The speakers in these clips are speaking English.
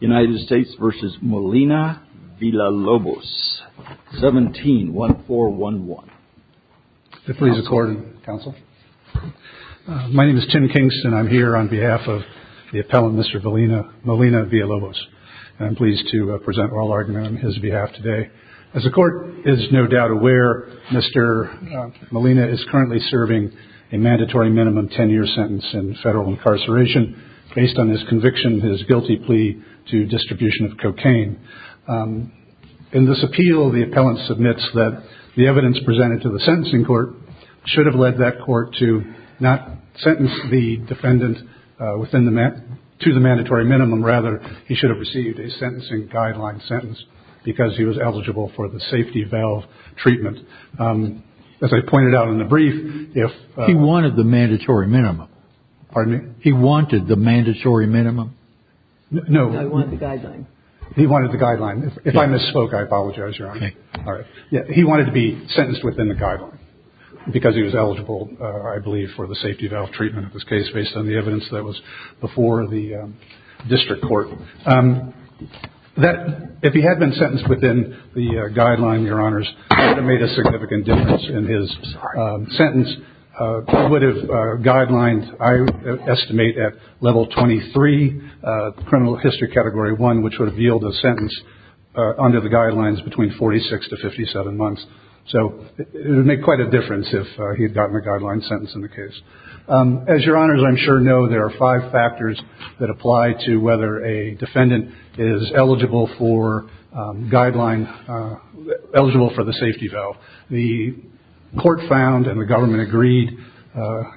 United States v. Molina-Villalobos 17-1411 My name is Tim Kingston. I'm here on behalf of the appellant, Mr. Molina-Villalobos. I'm pleased to present oral argument on his behalf today. As the court is no doubt aware, Mr. Molina is currently serving a mandatory minimum 10-year sentence in federal incarceration based on his conviction of his guilty plea to distribution of cocaine. In this appeal, the appellant submits that the evidence presented to the sentencing court should have led that court to not sentence the defendant to the mandatory minimum. Rather, he should have received a sentencing guideline sentence because he was eligible for the safety valve treatment. As I pointed out in the brief, if... He wanted the mandatory minimum. Pardon me? He wanted the mandatory minimum? No. No, he wanted the guideline. He wanted the guideline. If I misspoke, I apologize, Your Honor. Okay. All right. He wanted to be sentenced within the guideline because he was eligible, I believe, for the safety valve treatment in this case based on the evidence that was before the district court. If he had been sentenced within the guideline, Your Honors, it would have made a significant difference in his sentence. It would have guidelines, I estimate, at level 23, criminal history category 1, which would have yielded a sentence under the guidelines between 46 to 57 months. So it would make quite a difference if he had gotten a guideline sentence in the case. As Your Honors, I'm sure know there are five factors that apply to whether a defendant is eligible for guideline... eligible for the safety valve. The court found and the government agreed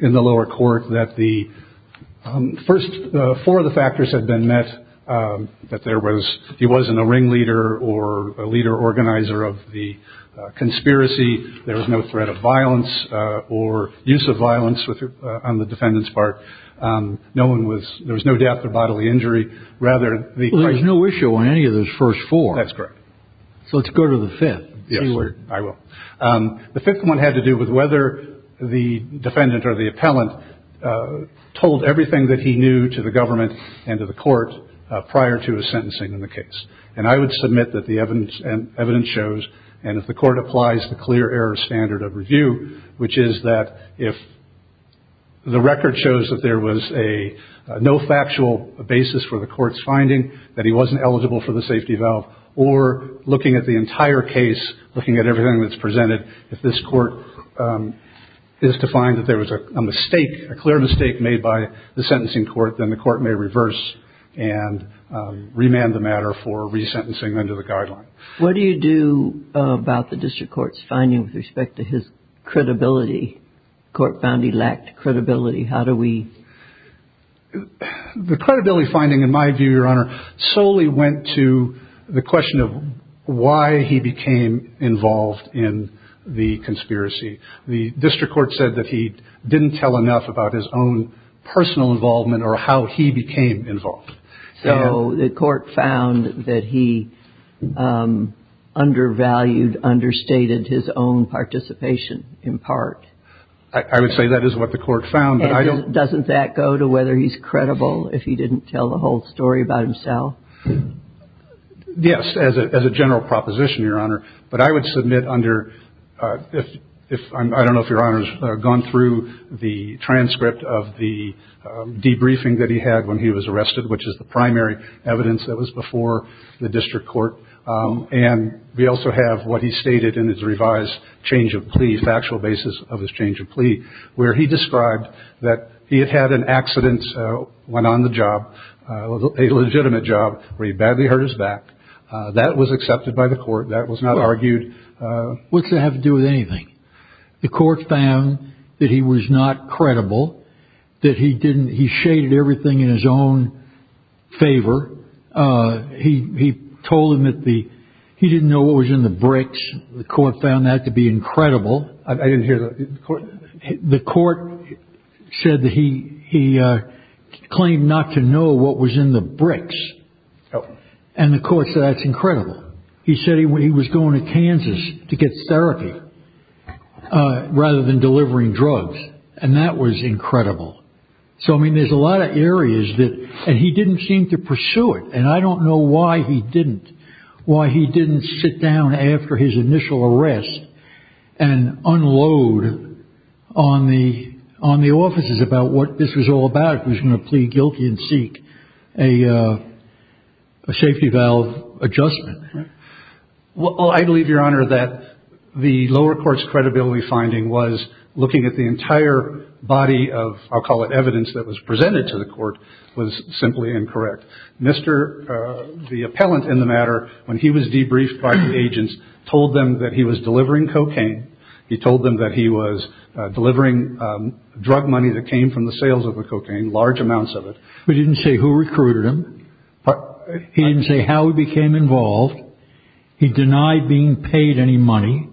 in the lower court that the first four of the factors had been met, that there was... he wasn't a ringleader or a leader organizer of the conspiracy. There was no threat of violence or use of violence on the defendant's part. No one was... there was no death or bodily injury. Rather, the... Well, there's no issue on any of those first four. That's correct. So let's go to the fifth. Yes, I will. The fifth one had to do with whether the defendant or the appellant told everything that he knew to the government and to the court prior to his sentencing in the case. And I would submit that the evidence shows, and if the court applies the clear error standard of review, which is that if the record shows that there was a no factual basis for the court's finding, that he wasn't eligible for the safety valve, or looking at the entire case, looking at everything that's presented, if this court is to find that there was a mistake, a clear mistake made by the sentencing court, then the court may reverse and remand the matter for resentencing under the guideline. What do you do about the district court's finding with respect to his credibility? The court found he lacked credibility. How do we... The credibility finding, in my view, Your Honor, solely went to the question of why he became involved in the conspiracy. The district court said that he didn't tell enough about his own personal involvement or how he became involved. So the court found that he undervalued, understated his own participation, in part. I would say that is what the court found. And doesn't that go to whether he's credible if he didn't tell the whole story about himself? Yes, as a general proposition, Your Honor. But I would submit under, I don't know if Your Honor has gone through the transcript of the debriefing that he had when he was arrested, which is the primary evidence that was before the district court. And we also have what he stated in his revised change of plea, factual basis of his change of plea, where he described that he had had an accident when on the job, a legitimate job, where he badly hurt his back. That was accepted by the court. That was not argued. What's that have to do with anything? The court found that he was not credible, that he didn't, he shaded everything in his own favor. He told him that the, he didn't know what was in the bricks. The court found that to be incredible. I didn't hear the court. The court said that he he claimed not to know what was in the bricks. And of course, that's incredible. He said he was going to Kansas to get therapy rather than delivering drugs. And that was incredible. So, I mean, there's a lot of areas that he didn't seem to pursue it. And I don't know why he didn't. Why he didn't sit down after his initial arrest and unload on the on the offices about what this was all about. He was going to plead guilty and seek a safety valve adjustment. Well, I believe, Your Honor, that the lower courts credibility finding was looking at the entire body of I'll call it evidence that was presented to the court was simply incorrect. Mr. The appellant in the matter, when he was debriefed by the agents, told them that he was delivering cocaine. He told them that he was delivering drug money that came from the sales of cocaine, large amounts of it. We didn't say who recruited him. He didn't say how he became involved. He denied being paid any money.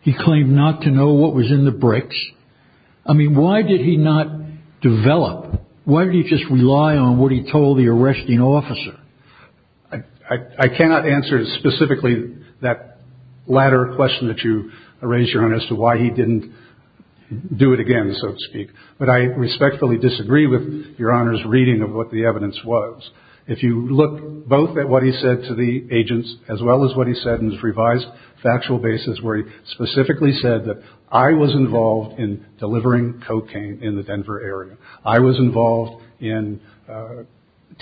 He claimed not to know what was in the bricks. I mean, why did he not develop? Why don't you just rely on what he told the arresting officer? I cannot answer specifically that latter question that you raised, Your Honor, as to why he didn't do it again, so to speak. But I respectfully disagree with Your Honor's reading of what the evidence was. If you look both at what he said to the agents as well as what he said in his revised factual basis where he specifically said that I was involved in delivering cocaine in the Denver area. I was involved in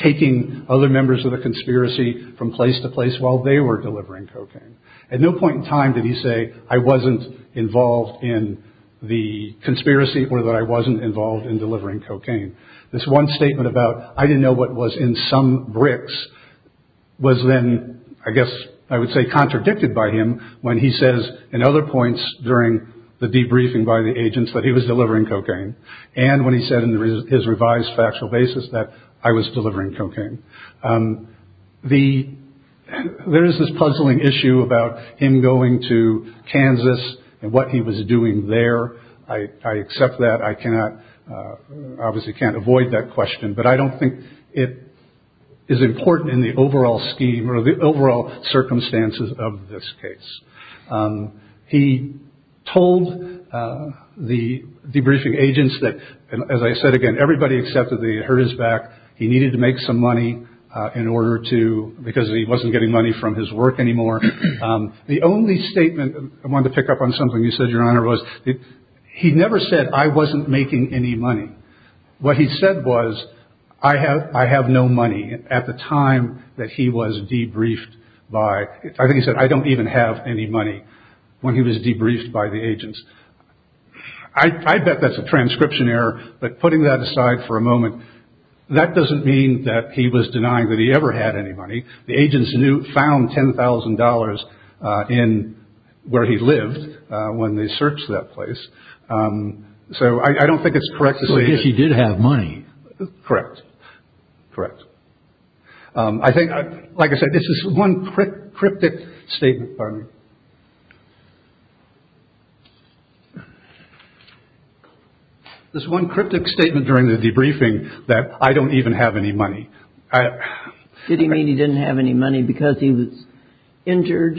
taking other members of the conspiracy from place to place while they were delivering cocaine. At no point in time did he say I wasn't involved in the conspiracy or that I wasn't involved in delivering cocaine. This one statement about I didn't know what was in some bricks was then, I guess I would say, contradicted by him when he says in other points during the debriefing by the agents that he was delivering cocaine. And when he said in his revised factual basis that I was delivering cocaine. The there is this puzzling issue about him going to Kansas and what he was doing there. I accept that. I cannot obviously can't avoid that question, but I don't think it is important in the overall scheme or the overall circumstances of this case. He told the debriefing agents that, as I said, again, everybody accepted that he heard his back. He needed to make some money in order to because he wasn't getting money from his work anymore. The only statement I want to pick up on something you said, Your Honor, was that he never said I wasn't making any money. What he said was I have I have no money at the time that he was debriefed by. I think he said I don't even have any money when he was debriefed by the agents. I bet that's a transcription error. But putting that aside for a moment, that doesn't mean that he was denying that he ever had any money. The agents knew found ten thousand dollars in where he lived when they searched that place. So I don't think it's correct. She did have money. Correct. Correct. I think, like I said, this is one cryptic statement. This one cryptic statement during the debriefing that I don't even have any money. Did he mean he didn't have any money because he was injured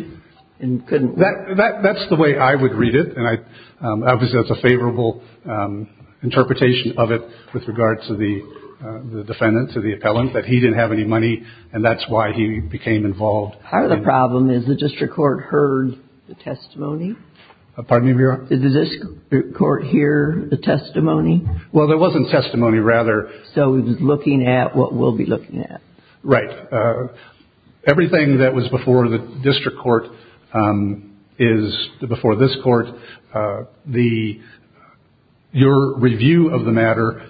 and couldn't. That's the way I would read it. And I was as a favorable interpretation of it with regards to the defendant, to the appellant, that he didn't have any money. And that's why he became involved. The problem is the district court heard the testimony. Pardon me, Your Honor. Does this court hear the testimony? Well, there wasn't testimony rather. So he was looking at what we'll be looking at. Right. Everything that was before the district court is before this court. The your review of the matter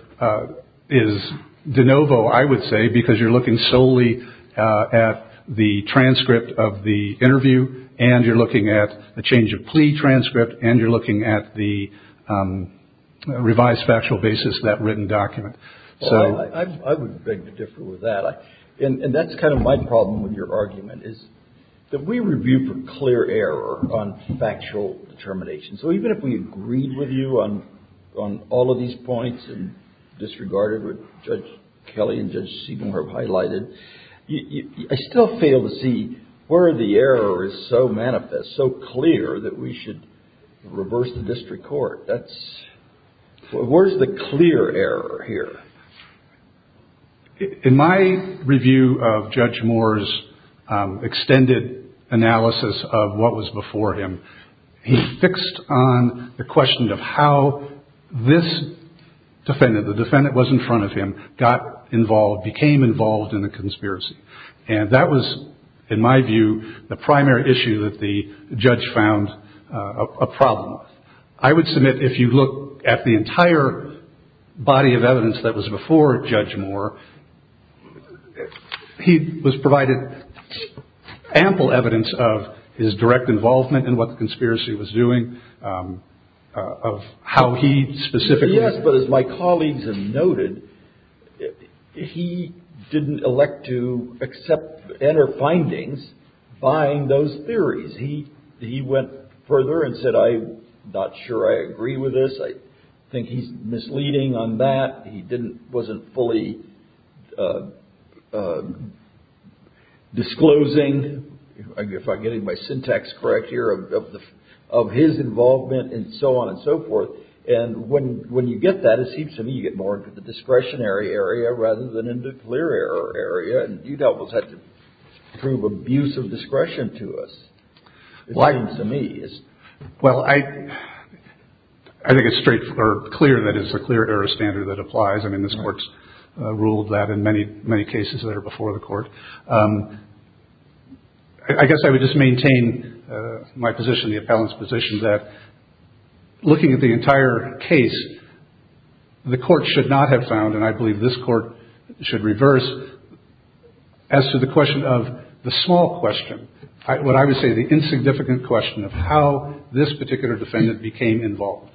is de novo, I would say, because you're looking solely at the transcript of the interview. And you're looking at the change of plea transcript. And you're looking at the revised factual basis, that written document. Well, I would beg to differ with that. And that's kind of my problem with your argument, is that we review for clear error on factual determination. So even if we agreed with you on all of these points and disregarded what Judge Kelly and Judge Siegel have highlighted, I still fail to see where the error is so manifest, so clear that we should reverse the district court. That's where's the clear error here. In my review of Judge Moore's extended analysis of what was before him, he fixed on the question of how this defendant, the defendant was in front of him, got involved, became involved in the conspiracy. And that was, in my view, the primary issue that the judge found a problem. I would submit, if you look at the entire body of evidence that was before Judge Moore, he was provided ample evidence of his direct involvement in what the conspiracy was doing, of how he specifically. Yes, but as my colleagues have noted, he didn't elect to accept and or findings buying those theories. He went further and said, I'm not sure I agree with this. I think he's misleading on that. He wasn't fully disclosing, if I'm getting my syntax correct here, of his involvement and so on and so forth. And when you get that, it seems to me you get more into the discretionary area rather than into clear error area. And you'd almost have to prove abuse of discretion to us. It seems to me. Well, I think it's straightforward, clear that it's a clear error standard that applies. I mean, this Court's ruled that in many, many cases that are before the Court. I guess I would just maintain my position, the appellant's position, that looking at the entire case, the Court should not have found, and I believe this Court should reverse, as to the question of the small question, what I would say the insignificant question of how this particular defendant became involved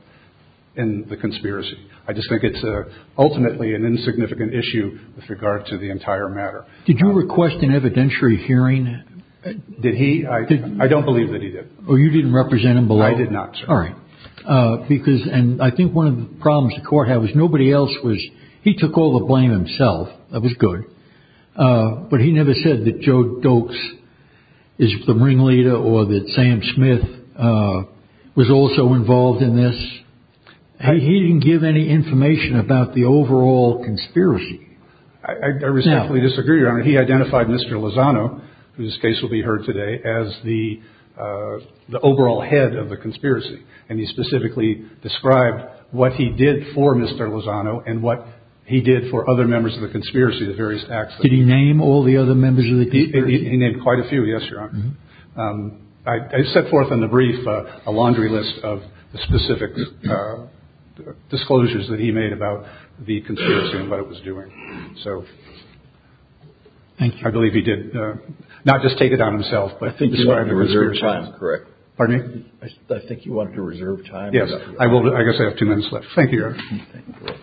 in the conspiracy. I just think it's ultimately an insignificant issue with regard to the entire matter. Did you request an evidentiary hearing? Did he? I don't believe that he did. Oh, you didn't represent him below? I did not, sir. All right. Because, and I think one of the problems the Court had was nobody else was, he took all the blame himself. That was good. But he never said that Joe Doakes is the ringleader or that Sam Smith was also involved in this. He didn't give any information about the overall conspiracy. I respectfully disagree, Your Honor. He identified Mr. Lozano, whose case will be heard today, as the overall head of the conspiracy. And he specifically described what he did for Mr. Lozano and what he did for other members of the conspiracy, the various acts. Did he name all the other members of the conspiracy? He named quite a few, yes, Your Honor. I set forth in the brief a laundry list of the specific disclosures that he made about the conspiracy and what it was doing. So I believe he did not just take it on himself. But I think he was right. Correct. Pardon me. I think you want to reserve time. Yes, I will. I guess I have two minutes left. Thank you. Thank you, Your Honor.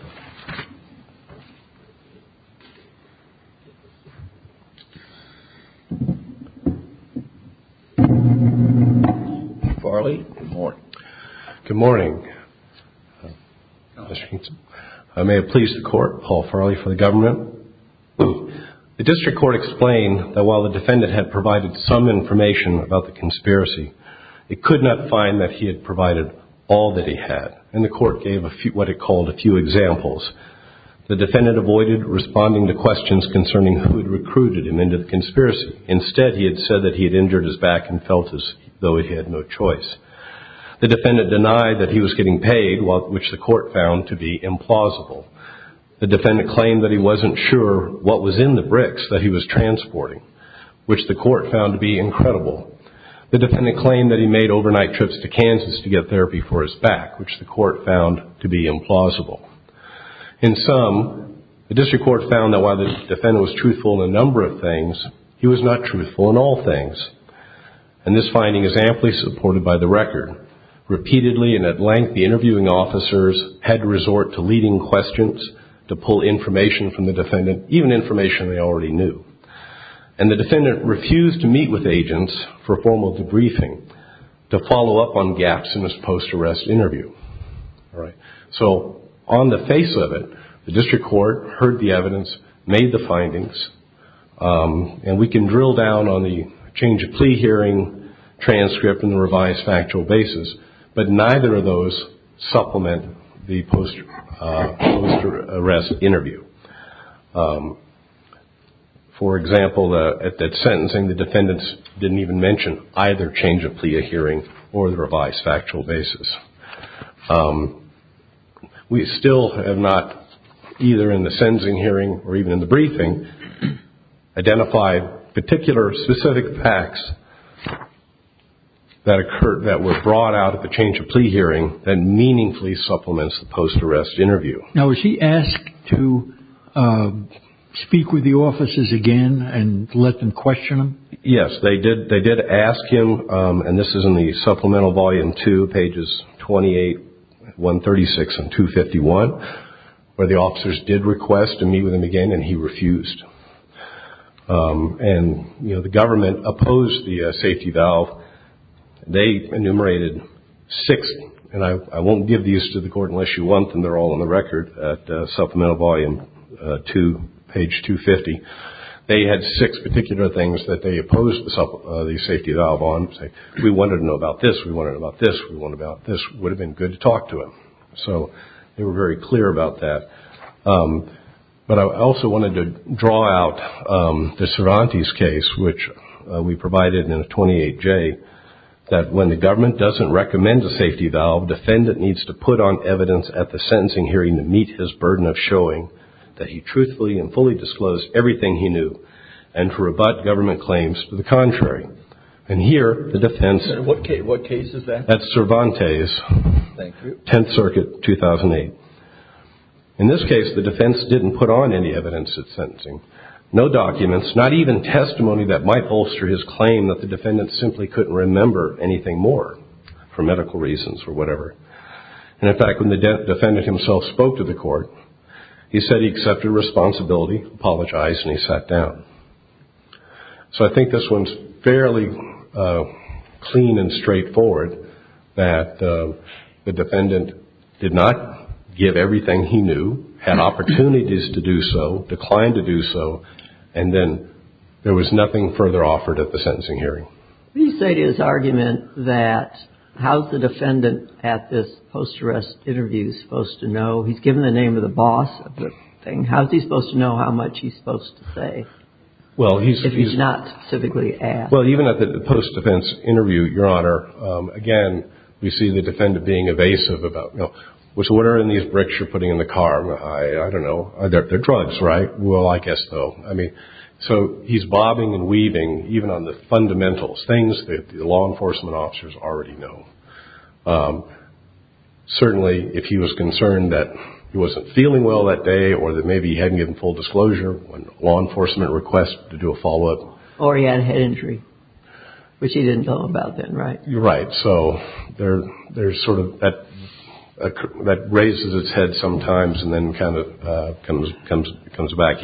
Farley, good morning. Good morning. I may have pleased the court. Paul Farley for the government. The district court explained that while the defendant had provided some information about the conspiracy, it could not find that he had provided all that he had. And the court gave what it called a few examples. The defendant avoided responding to questions concerning who had recruited him into the conspiracy. Instead, he had said that he had injured his back and felt as though he had no choice. The defendant denied that he was getting paid, which the court found to be implausible. The defendant claimed that he wasn't sure what was in the bricks that he was transporting, which the court found to be incredible. The defendant claimed that he made overnight trips to Kansas to get therapy for his back, which the court found to be implausible. In sum, the district court found that while the defendant was truthful in a number of things, he was not truthful in all things. And this finding is amply supported by the record. Repeatedly and at length, the interviewing officers had to resort to leading questions to pull information from the defendant, even information they already knew. And the defendant refused to meet with agents for a formal debriefing to follow up on gaps in his post-arrest interview. So on the face of it, the district court heard the evidence, made the findings, and we can drill down on the change of plea hearing, transcript, and the revised factual basis, but neither of those supplement the post-arrest interview. For example, at that sentencing, the defendants didn't even mention either change of plea hearing or the revised factual basis. We still have not, either in the sentencing hearing or even in the briefing, identified particular specific facts that were brought out at the change of plea hearing that meaningfully supplements the post-arrest interview. Now, was he asked to speak with the officers again and let them question him? Yes, they did ask him, and this is in the supplemental volume two, pages 28, 136, and 251, where the officers did request to meet with him again, and he refused. And the government opposed the safety valve. They enumerated six, and I won't give these to the court unless you want them. They're all on the record at supplemental volume two, page 250. They had six particular things that they opposed the safety valve on, saying we wanted to know about this, we wanted to know about this, we wanted to know about this. It would have been good to talk to him. So they were very clear about that. But I also wanted to draw out the Cervantes case, which we provided in the 28J, that when the government doesn't recommend a safety valve, defendant needs to put on evidence at the sentencing hearing to meet his burden of showing that he truthfully and fully disclosed everything he knew and to rebut government claims to the contrary. And here, the defense at Cervantes, 10th Circuit, 2008. In this case, the defense didn't put on any evidence at sentencing, no documents, not even testimony that might bolster his claim that the defendant simply couldn't remember anything more, for medical reasons or whatever. And, in fact, when the defendant himself spoke to the court, he said he accepted responsibility, apologized, and he sat down. So I think this one's fairly clean and straightforward, that the defendant did not give everything he knew, had opportunities to do so, declined to do so, and then there was nothing further offered at the sentencing hearing. You say to his argument that how's the defendant at this post-arrest interview supposed to know? He's given the name of the boss of the thing. How's he supposed to know how much he's supposed to say if he's not civically asked? Well, even at the post-defense interview, Your Honor, again, we see the defendant being evasive about, you know, so what are in these bricks you're putting in the car? I don't know. They're drugs, right? Well, I guess so. I mean, so he's bobbing and weaving, even on the fundamentals, things that the law enforcement officers already know. Certainly, if he was concerned that he wasn't feeling well that day or that maybe he hadn't given full disclosure, when law enforcement requests to do a follow-up. Or he had a head injury, which he didn't know about then, right? Right. So there's sort of that raises its head sometimes and then kind of comes back.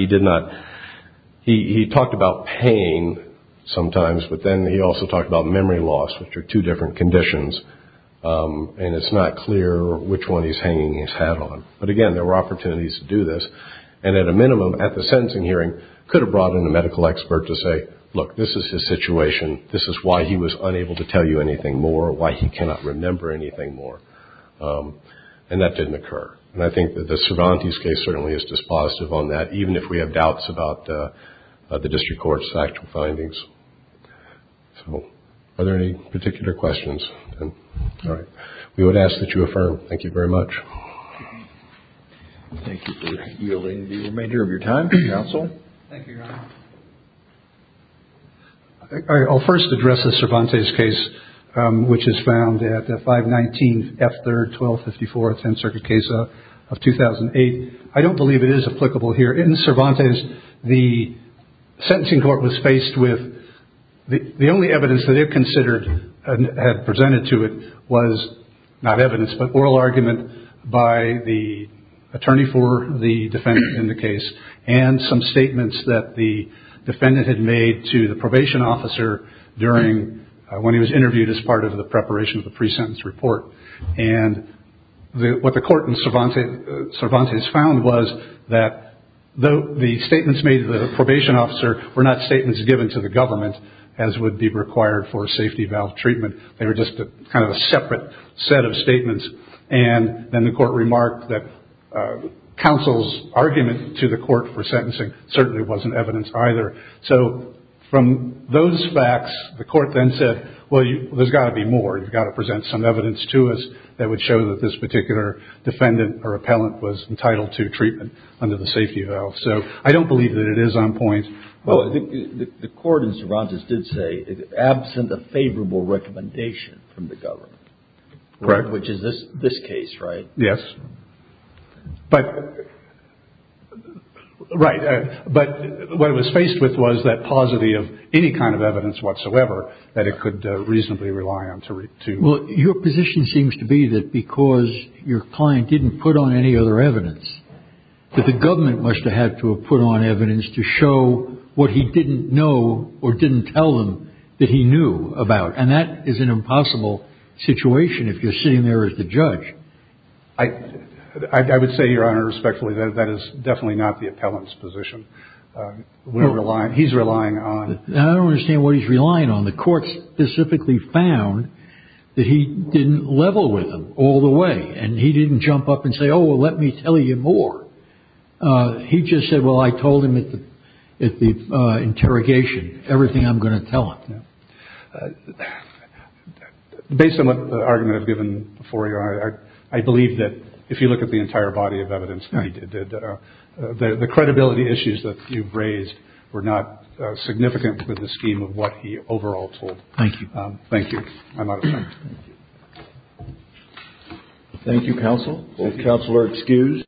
He talked about pain sometimes, but then he also talked about memory loss, which are two different conditions. And it's not clear which one he's hanging his hat on. But again, there were opportunities to do this. And at a minimum, at the sentencing hearing, could have brought in a medical expert to say, look, this is his situation. This is why he was unable to tell you anything more, why he cannot remember anything more. And that didn't occur. And I think that the Cervantes case certainly is dispositive on that, even if we have doubts about the district court's actual findings. So are there any particular questions? All right. We would ask that you affirm. Thank you very much. Thank you for yielding the remainder of your time, counsel. Thank you, Your Honor. I'll first address the Cervantes case, which is found at five. Nineteen. After twelve. Fifty four. Tenth Circuit case of 2008. I don't believe it is applicable here in Cervantes. The sentencing court was faced with the only evidence that it considered and had presented to it was not evidence, but oral argument by the attorney for the defendant in the case, and some statements that the defendant had made to the probation officer during, when he was interviewed as part of the preparation of the pre-sentence report. And what the court in Cervantes found was that the statements made to the probation officer were not statements given to the government, as would be required for safety valve treatment. They were just kind of a separate set of statements. And then the court remarked that counsel's argument to the court for sentencing certainly wasn't evidence either. So from those facts, the court then said, well, there's got to be more. You've got to present some evidence to us that would show that this particular defendant or appellant was entitled to treatment under the safety valve. So I don't believe that it is on point. Well, I think the court in Cervantes did say, absent a favorable recommendation from the government. Correct. Which is this case, right? Yes. But, right. But what it was faced with was that paucity of any kind of evidence whatsoever that it could reasonably rely on to. Well, your position seems to be that because your client didn't put on any other evidence, that the government must have had to have put on evidence to show what he didn't know or didn't tell them that he knew about. And that is an impossible situation if you're sitting there as the judge. I would say, Your Honor, respectfully, that is definitely not the appellant's position. We're relying, he's relying on. I don't understand what he's relying on. The court specifically found that he didn't level with them all the way. And he didn't jump up and say, oh, well, let me tell you more. He just said, well, I told him at the interrogation everything I'm going to tell him. Based on what the argument I've given before, I believe that if you look at the entire body of evidence, the credibility issues that you've raised were not significant with the scheme of what he overall told. Thank you. I'm out of time. Thank you, counsel. Counsel are excused.